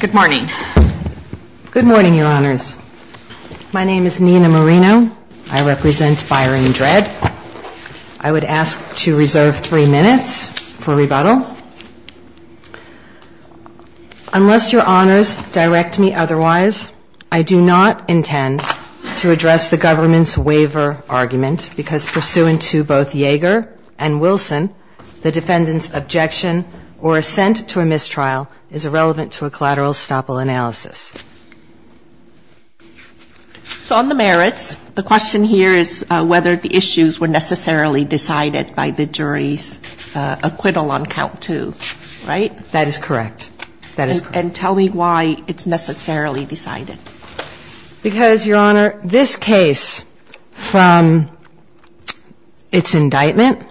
Good morning, your honors. My name is Nina Marino. I represent Byron Dredd. I would ask to reserve three minutes for rebuttal. Unless your honors direct me otherwise, I do not intend to address the government's waiver argument because pursuant to both Yeager and the merits, the question here is whether the issues were necessarily decided by the jury's acquittal on count two, right? That is correct. And tell me why it's necessarily decided. Because, your honor, this case, from its indictment,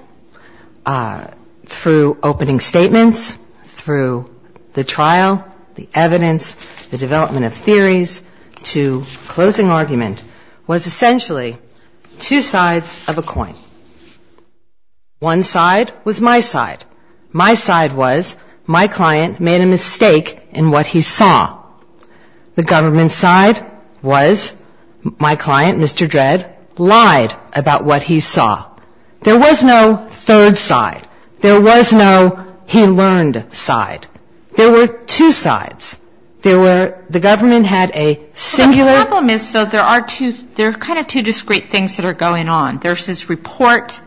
through opening statements, through the jury's trial, the evidence, the development of theories, to closing argument, was essentially two sides of a coin. One side was my side. My side was my client made a mistake in what he saw. The government's side was my client, Mr. Dredd, lied about what he saw. There was no third side. There was no he learned side. There were two sides. There were, the government had a singular... The problem is, though, there are two, there are kind of two discrete things that are going on. There's his report,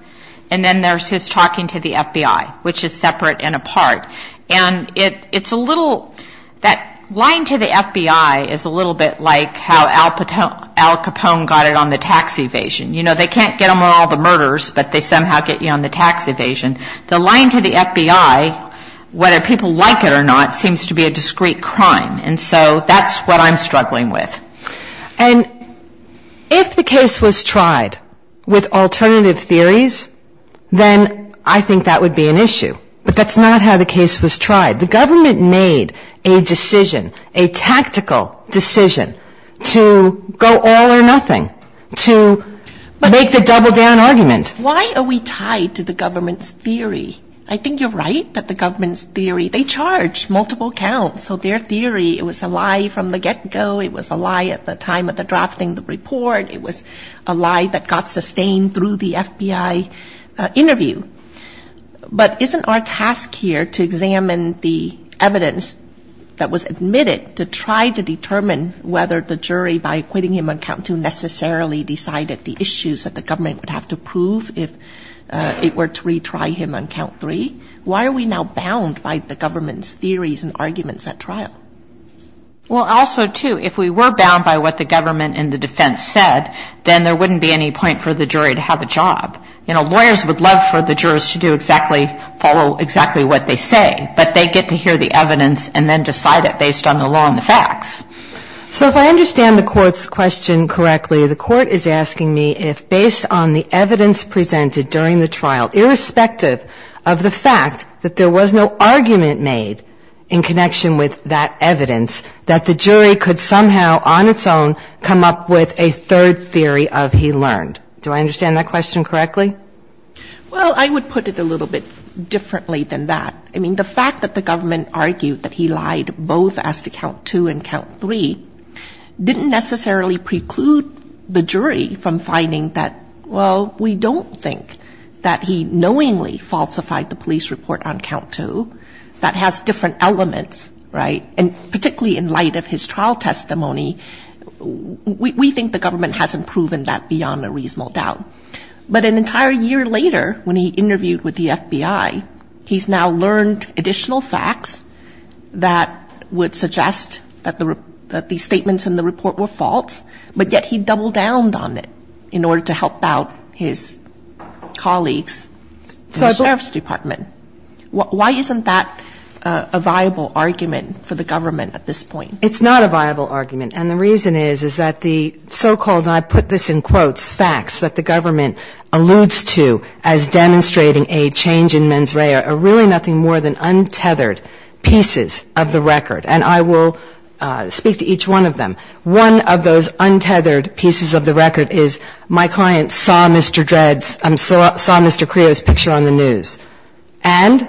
and then there's his talking to the FBI, which is separate and apart. And it's a little, that lying to the FBI is a little bit like how Al Capone got it on the tax evasion. You know, they can't get them on all the murders, but they somehow get you on the tax evasion. The lying to the FBI, whether people like it or not, seems to be a discrete crime. And so that's what I'm struggling with. And if the case was tried with alternative theories, then I think that would be an issue. But that's not how the case was tried. The government made a decision, a tactical decision, to go all or nothing, to make the double-down argument. Why are we tied to the government's theory? I think you're right that the government's theory, they charge multiple counts. So their theory, it was a lie from the get-go. It was a lie at the time of the drafting of the report. It was a lie that got sustained through the FBI interview. But isn't our task here to examine the evidence that was admitted to try to determine whether the jury, by acquitting him on count two, necessarily decided the issues that the government would have to prove if it were to retry him on count three? Why are we now bound by the government's theories and arguments at trial? Well, also, too, if we were bound by what the government and the defense said, then there wouldn't be any point for the jury to have a job. You know, lawyers would love for the jurors to do exactly, follow exactly what they say. But they get to hear the evidence and then decide it based on the law and the facts. So if I understand the Court's question correctly, the Court is asking me if, based on the evidence presented during the trial, irrespective of the fact that there was no argument made in connection with that evidence, that the jury could somehow, on its own, come up with a third theory of he learned. Do I understand that question correctly? Well, I would put it a little bit differently than that. I mean, the fact that the government argued that he lied both as to count two and count three didn't necessarily preclude the jury from finding that, well, we don't think that he knowingly falsified the police report on count two. That has different elements, right? And particularly in light of his trial testimony, we think the government hasn't proven that beyond a reasonable doubt. But an entire year later, when he interviewed with the FBI, he's now learned additional facts that would suggest that the statements in the report were false, but yet he doubled down on it in order to help out his colleagues in the sheriff's department. Why isn't that a viable argument for the government at this point? It's not a viable argument. And the reason is, is that the so-called, and I put this in quotes, facts that the government alludes to as demonstrating a change in mens rea are really nothing more than untethered pieces of the record. And I will speak to each one of them. One of those untethered pieces of the record is my client saw Mr. Dredd's, saw Mr. Creo's picture on the news. And?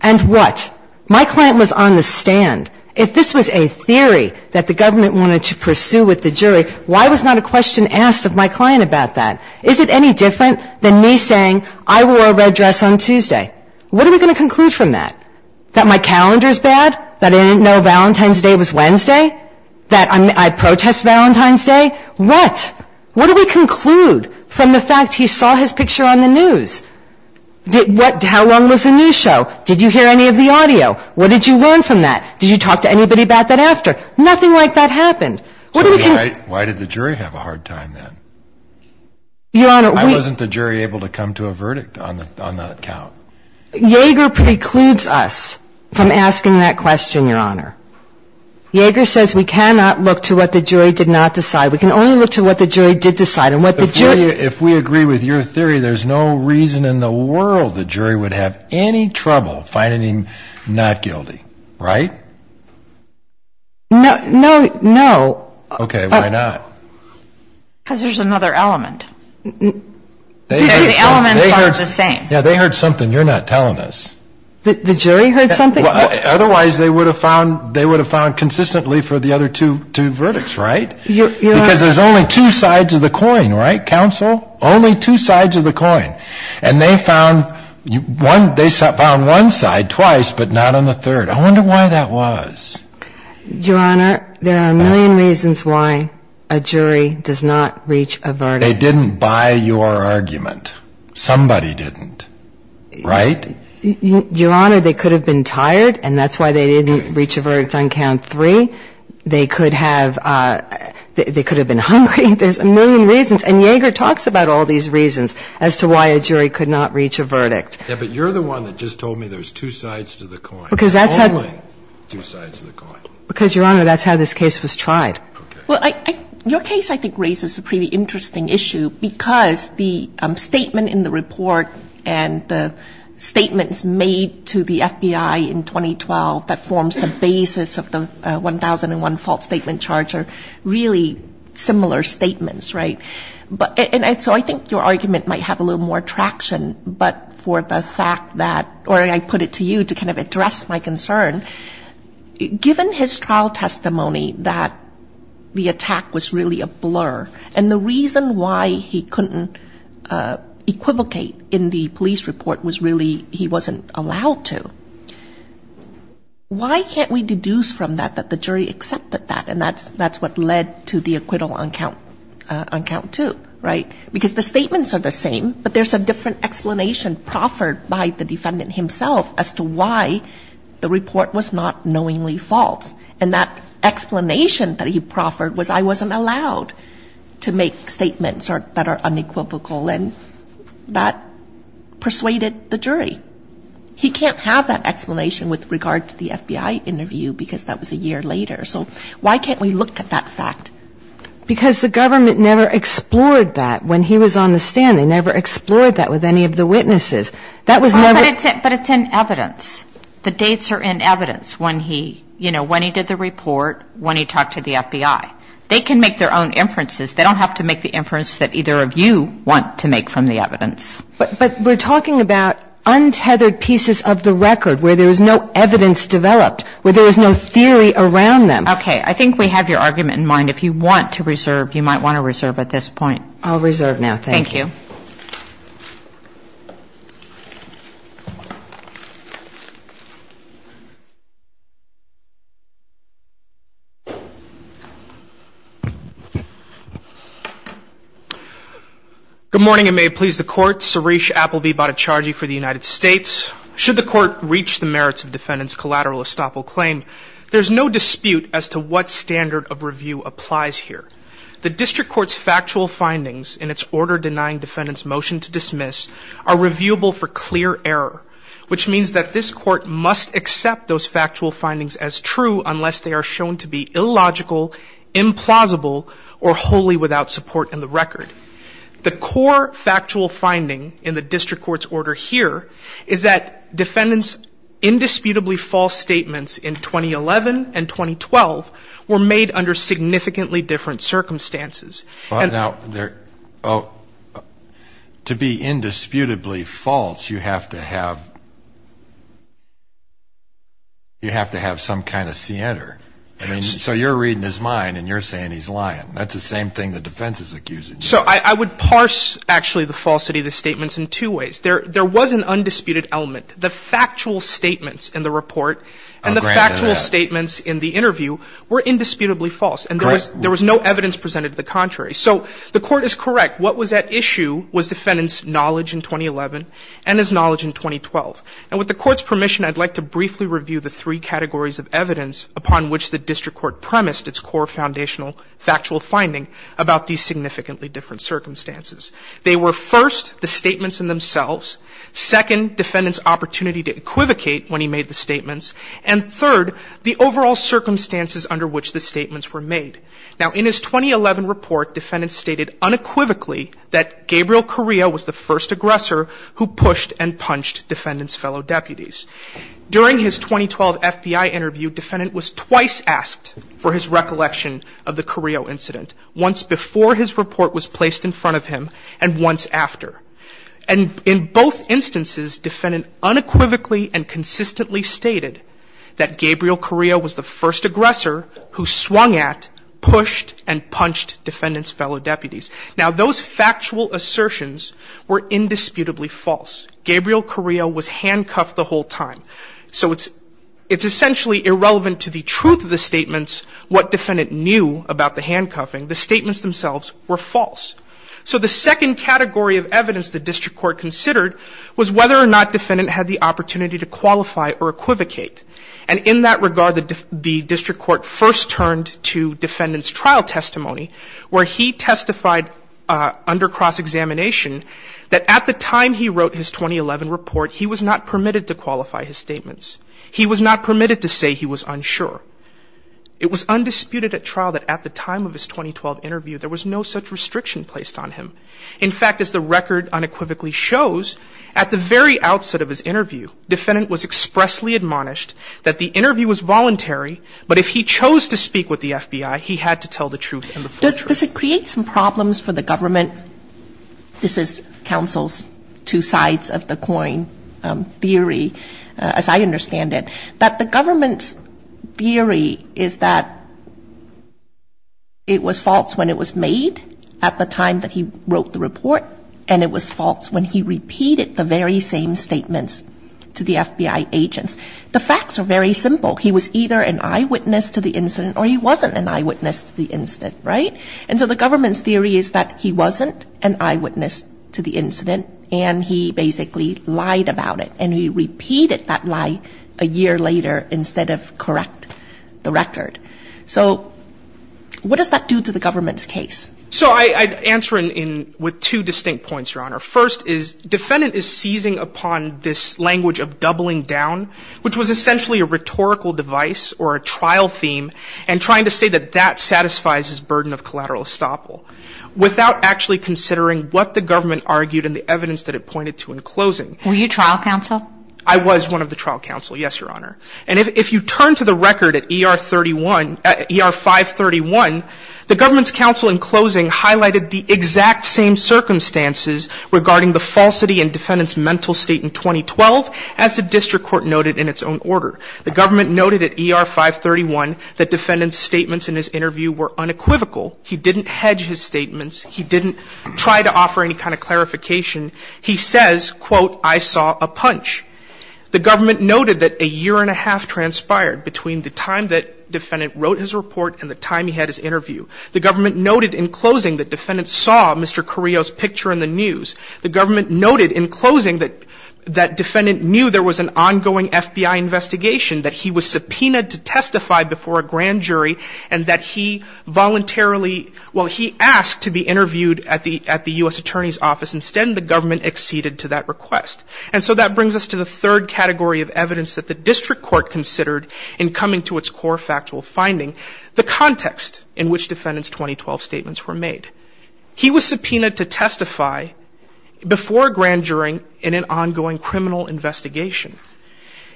And what? My client was on the stand. If this was a theory that the government wanted to pursue with the jury, why was not a question asked of my client about that? Is it any different than me saying, I wore a red dress on Tuesday? What are we going to conclude from that? That my calendar's bad? That I didn't know Valentine's Day was Wednesday? That I protest Valentine's Day? What? What do we conclude from the fact he saw his picture on the news? How long was the news show? Did you hear any of the audio? What did you learn from that? Did you talk to anybody about that after? Nothing like that happened. So why did the jury have a hard time then? I wasn't the jury able to come to a verdict on that count. Yeager precludes us from asking that question, Your Honor. Yeager says we cannot look to what the jury did not decide. We can only look to what the jury did decide. If we agree with your theory, there's no reason in the world the jury would have any trouble finding him not guilty, right? No, no, no. Okay, why not? Because there's another element. The elements aren't the same. They heard something you're not telling us. The jury heard something? Otherwise they would have found consistently for the other two verdicts, right? Because there's only two sides of the coin, right, counsel? Only two sides of the coin. And they found one side twice, but not on the third. I wonder why that was. Your Honor, there are a million reasons why a jury does not reach a verdict. They didn't buy your argument. Somebody didn't. Right? Your Honor, they could have been tired, and that's why they didn't reach a verdict on count three. They could have been hungry. There's a million reasons. And Yeager talks about all these reasons as to why a jury could not reach a verdict. Yeah, but you're the one that just told me there's two sides to the coin, only two sides to the coin. Because, Your Honor, that's how this case was tried. Well, your case, I think, raises a pretty interesting issue because the statement in the report and the statements made to the FBI in 2012 that forms the basis of the 1001 false statement charge are really similar statements, right? And so I think your argument might have a little more traction, but for the fact that, or I put it to you to kind of address my concern, given his trial testimony that the attack was really a blur, and the reason why he couldn't equivocate in the police report was really he wasn't allowed to, why can't we deduce from that that the jury accepted that? And that's what led to the acquittal on count two, right? Because the statements are the same, but there's a different explanation proffered by the defendant himself as to why the report was not knowingly false. And that explanation that he proffered was I wasn't allowed to make statements that are unequivocal, and that persuaded the jury. He can't have that explanation with regard to the FBI interview because that was a year later. So why can't we look at that fact? Because the government never explored that when he was on the stand. They never explored that with any of the witnesses. That was never the case. But it's in evidence. The dates are in evidence when he did the report, when he talked to the FBI. They can make their own inferences. They don't have to make the inference that either of you want to make from the evidence. But we're talking about untethered pieces of the record where there is no evidence developed, where there is no theory around them. Okay. I think we have your argument in mind. If you want to reserve, you might want to reserve at this point. I'll reserve now. Thank you. Good morning, and may it please the Court. Suresh Appleby, bodicharji for the United States. Should the Court reach the merits of defendant's collateral estoppel claim, there's no dispute as to what standard of review applies here. The district court's factual findings in its order denying defendant's motion to dismiss are reviewable for clear error, which means that this Court must accept those factual findings as true unless they are shown to be illogical, implausible, or wholly without support in the record. The core factual finding in the district court's order here is that defendant's indisputably false statements in 2011 and 2012 were made under significantly different circumstances. To be indisputably false, you have to have some kind of scienter. I mean, so you're reading his mind and you're saying he's lying. That's the same thing the defense is accusing you of. So I would parse, actually, the falsity of the statements in two ways. There was an undisputed element. The factual statements in the report and the factual statements in the interview were indisputably false. And there was no evidence presented to the contrary. So the Court is correct. What was at issue was defendant's knowledge in 2011 and his knowledge in 2012. And with the Court's permission, I'd like to briefly review the three categories of evidence upon which the district court premised its core foundational factual finding about these significantly different circumstances. They were, first, the statements in themselves, second, defendant's opportunity to equivocate when he made the statements, and third, the overall circumstances under which the statements were made. Now, in his 2011 report, defendant stated unequivocally that Gabriel Carrillo was the first aggressor who pushed and punched defendant's fellow deputies. During his 2012 FBI interview, defendant was twice asked for his recollection of the Carrillo incident, once before his report was placed in front of him and once after. And in both instances, defendant unequivocally and consistently stated that Gabriel Carrillo was the first aggressor who swung at, pushed, and punched defendant's fellow deputies. Now, those factual assertions were indisputably false. Gabriel Carrillo was handcuffed the whole time. So it's essentially irrelevant to the truth of the statements, what defendant knew about the handcuffing. The statements themselves were false. So the second category of evidence the district court considered was whether or not defendant had the opportunity to qualify or equivocate. And in that regard, the district court first turned to defendant's trial testimony where he testified under cross-examination that at the time he wrote his 2011 report, he was not permitted to qualify his statements. He was not permitted to say he was unsure. It was undisputed at trial that at the time of his 2012 interview, there was no such restriction placed on him. In fact, as the record unequivocally shows, at the very outset of his interview, defendant was expressly admonished that the interview was voluntary, but if he chose to speak with the FBI, he had to tell the truth and the full truth. Does it create some problems for the government? This is counsel's two sides of the coin theory, as I understand it, that the government's theory is that it was false when it was made at the time that he wrote the report, and it was false when he repeated the very same statements to the FBI agents. The facts are very simple. He was either an eyewitness to the incident or he wasn't an eyewitness to the incident, right? And so the government's theory is that he wasn't an eyewitness to the incident and he basically lied about it, and he repeated that lie a year later instead of correct the record. So what does that do to the government's case? So I'd answer with two distinct points, Your Honor. First is defendant is seizing upon this language of doubling down, which was essentially a rhetorical device or a trial theme, and trying to say that that satisfies his burden of collateral estoppel without actually considering what the government argued and the evidence that it pointed to in closing. Were you trial counsel? I was one of the trial counsel, yes, Your Honor. And if you turn to the record at ER 531, the government's counsel in closing highlighted the exact same circumstances regarding the falsity in defendant's mental state in 2012 as the district court noted in its own order. The government noted at ER 531 that defendant's statements in his interview were unequivocal. He didn't hedge his statements. He didn't try to offer any kind of clarification. He says, quote, I saw a punch. The government noted that a year and a half transpired between the time that defendant wrote his report and the time he had his interview. The government noted in closing that defendant saw Mr. Carrillo's picture in the news. The government noted in closing that defendant knew there was an ongoing FBI investigation, that he was subpoenaed to testify before a grand jury, and that he voluntarily, well, he asked to be interviewed at the U.S. Attorney's Office. Instead, the government acceded to that request. And so that brings us to the third category of evidence that the district court considered in coming to its core factual finding, the context in which defendant's 2012 statements were made. He was subpoenaed to testify before a grand jury in an ongoing criminal investigation.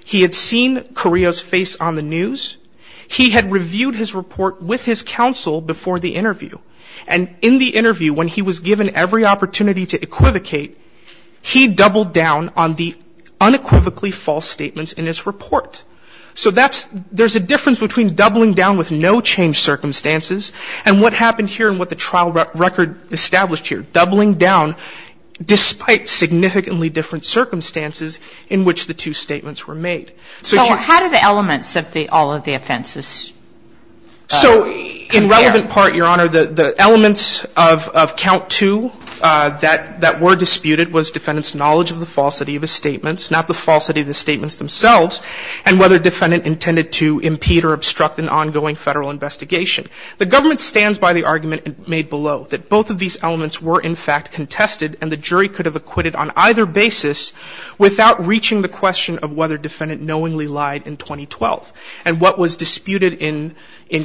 He had seen Carrillo's face on the news. He had reviewed his report with his counsel before the interview. And in the interview, when he was given every opportunity to equivocate, he doubled down on the unequivocally false statements in his report. So that's, there's a difference between doubling down with no changed circumstances and what happened here and what the trial record established here, doubling down despite significantly different circumstances in which the two statements were made. So how do the elements of all of the offenses compare? In the argument part, Your Honor, the elements of count two that were disputed was defendant's knowledge of the falsity of his statements, not the falsity of the statements themselves, and whether defendant intended to impede or obstruct an ongoing Federal investigation. The government stands by the argument made below, that both of these elements were in fact contested, and the jury could have acquitted on either basis without reaching the question of whether defendant knowingly lied in 2012. And what was disputed in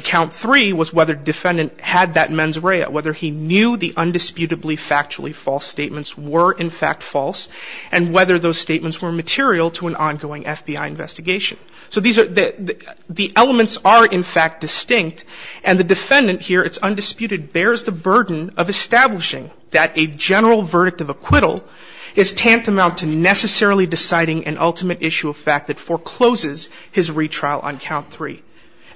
count three was whether defendant had that mens rea, whether he knew the undisputably factually false statements were in fact false, and whether those statements were material to an ongoing FBI investigation. So these are, the elements are in fact distinct, and the defendant here, it's undisputed, bears the burden of establishing that a general verdict of acquittal is tantamount to necessarily deciding an ultimate issue of fact that forecloses his retrial on count three,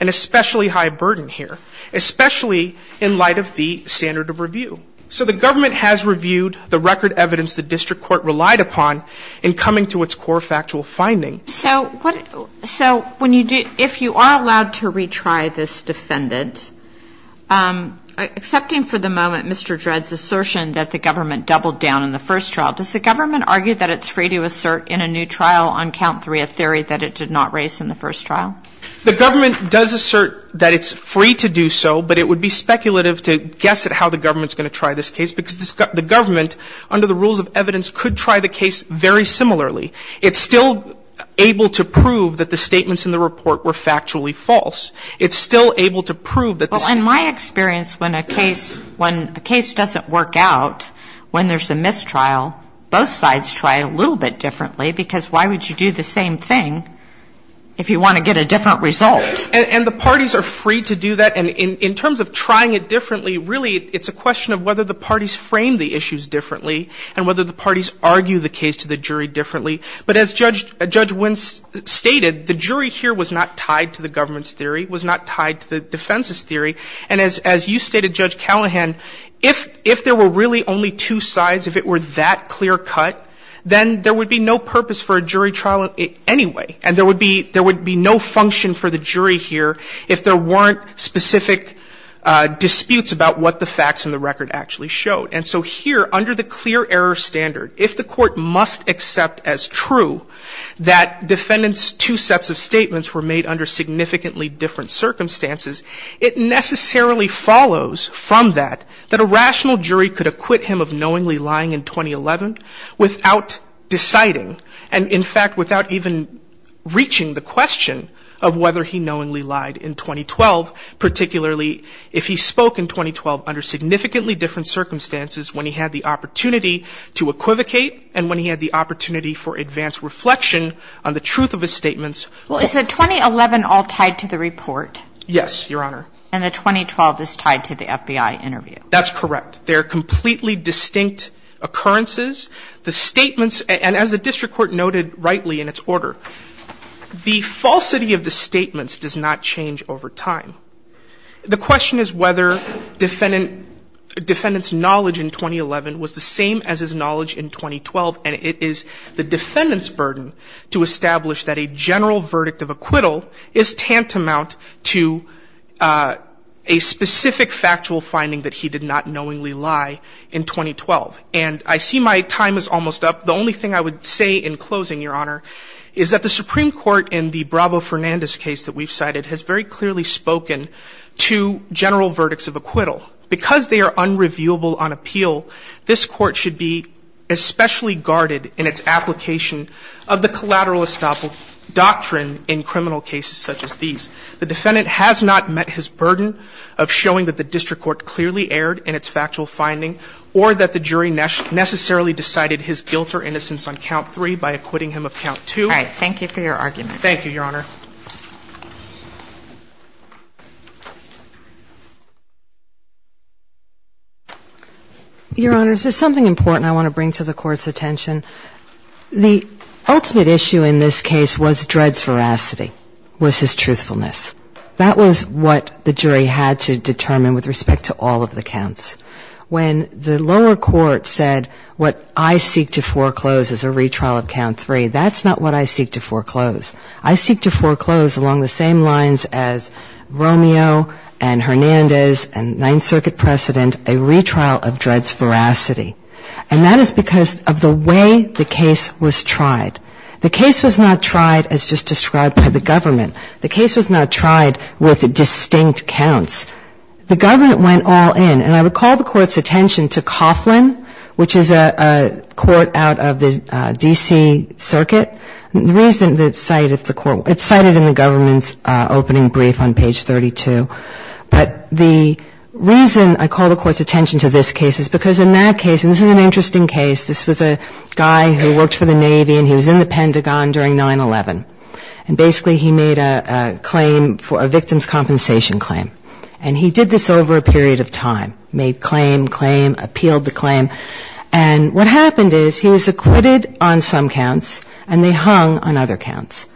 an especially high burden here, especially in light of the standard of review. So the government has reviewed the record evidence the district court relied upon in coming to its core factual finding. So what, so when you do, if you are allowed to retry this defendant, excepting for the moment Mr. Dredd's assertion that the government doubled down on the first trial, does the government argue that it's free to assert in a new trial on count three a theory that it did not raise in the first trial? The government does assert that it's free to do so, but it would be speculative to guess at how the government's going to try this case because the government, under the rules of evidence, could try the case very similarly. It's still able to prove that the statements in the report were factually false. And the parties are free to do that. And in terms of trying it differently, really it's a question of whether the parties frame the issues differently and whether the parties argue the case to the jury differently. But as Judge Wynn stated, the jury here was not tied to the government's theory, was not tied to the defense's theory. And as you stated, Judge Callahan, if there were really only two sides, if it were this or that, that clear cut, then there would be no purpose for a jury trial anyway. And there would be no function for the jury here if there weren't specific disputes about what the facts in the record actually showed. And so here, under the clear error standard, if the court must accept as true that defendants' two sets of statements were made under significantly different circumstances, it necessarily follows from that that a rational jury could acquit him of knowingly lying in 2011 without deciding and, in fact, without even reaching the question of whether he knowingly lied in 2012, particularly if he spoke in 2012 under significantly different circumstances when he had the opportunity to equivocate and when he had the opportunity for advanced reflection on the truth of his statements. Well, is the 2011 all tied to the report? Yes, Your Honor. And the 2012 is tied to the FBI interview? That's correct. They're completely distinct occurrences. The statements, and as the district court noted rightly in its order, the falsity of the statements does not change over time. The question is whether defendant's knowledge in 2011 was the same as his knowledge in 2012, and it is the defendant's burden to establish that a general verdict of acquittal is tantamount to a specific factual finding that he did not knowingly lie in 2012. And I see my time is almost up. The only thing I would say in closing, Your Honor, is that the Supreme Court in the Bravo-Fernandez case that we've cited has very clearly spoken to general verdicts of acquittal. Because they are unreviewable on appeal, this Court should be especially guarded in its application of the collateralist doctrine in criminal cases such as these. The defendant has not met his burden of showing that the district court clearly erred in its factual finding or that the jury necessarily decided his guilt or innocence on count three by acquitting him of count two. All right. Thank you for your argument. Thank you, Your Honor. Your Honors, there's something important I want to bring to the Court's attention The ultimate issue in this case was Dredd's veracity, was his truthfulness. That was what the jury had to determine with respect to all of the counts. When the lower court said what I seek to foreclose is a retrial of count three, that's not what I seek to foreclose. I seek to foreclose along the same lines as Romeo and Hernandez and Ninth Circuit precedent, a retrial of Dredd's veracity. And that is because of the way the case was tried. The case was not tried as just described by the government. The case was not tried with distinct counts. The government went all in. And I would call the Court's attention to Coughlin, which is a court out of the D.C. Circuit. The reason it's cited in the government's opening brief on page 32. But the reason I call the Court's attention to this case is because in that case, and this is an interesting case, this was a guy who worked for the Navy and he was in the Pentagon during 9-11. And basically he made a claim for a victim's compensation claim. And he did this over a period of time, made claim, claim, appealed the claim. And what happened is he was acquitted on some counts and they hung on other counts.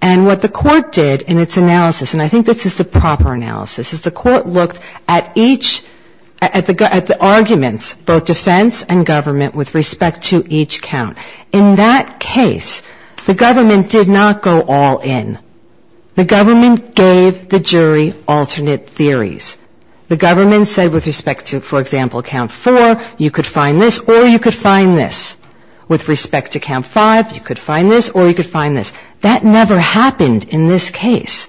And what the Court did in its analysis, and I think this is the proper analysis, is the Court looked at each, at the arguments, both defense and government, with respect to each count. In that case, the government did not go all in. The government gave the jury alternate theories. The government said with respect to, for example, count 4, you could find this or you could find this. With respect to count 5, you could find this or you could find this. That never happened in this case.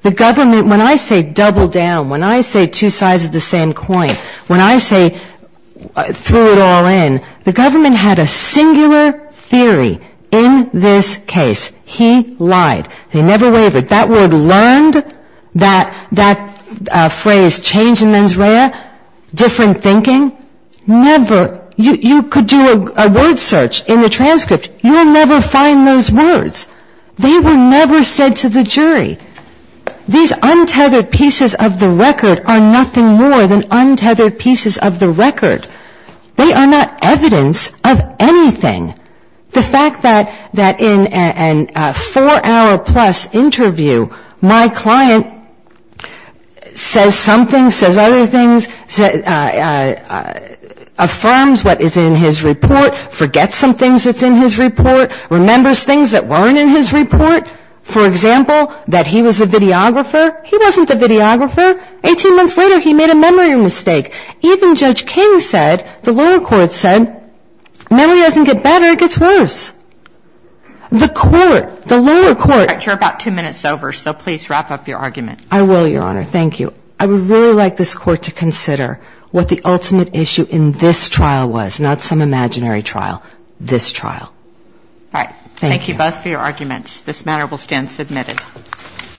The government, when I say double down, when I say two sides of the same coin, when I say throw it all in, the government had a singular theory in this case. He lied. They never wavered. That word learned, that phrase change in mens rea, different thinking, never. You could do a word search in the transcript. You'll never find those words. They were never said to the jury. These untethered pieces of the record are nothing more than untethered pieces of the record. They are not evidence of anything. The fact that in a four-hour-plus interview, my client says something, says other things, affirms what is in his report, forgets some things that's in his report, remembers things that weren't in his report, for example, that he was a videographer, he wasn't the videographer. Eighteen months later, he made a memory mistake. Even Judge King said, the lower court said, memory doesn't get better, it gets worse. The court, the lower court. You're about two minutes over, so please wrap up your argument. I will, Your Honor. Thank you. I would really like this Court to consider what the ultimate issue in this trial was, not some imaginary trial. This trial. All right. Thank you both for your arguments. This matter will stand submitted.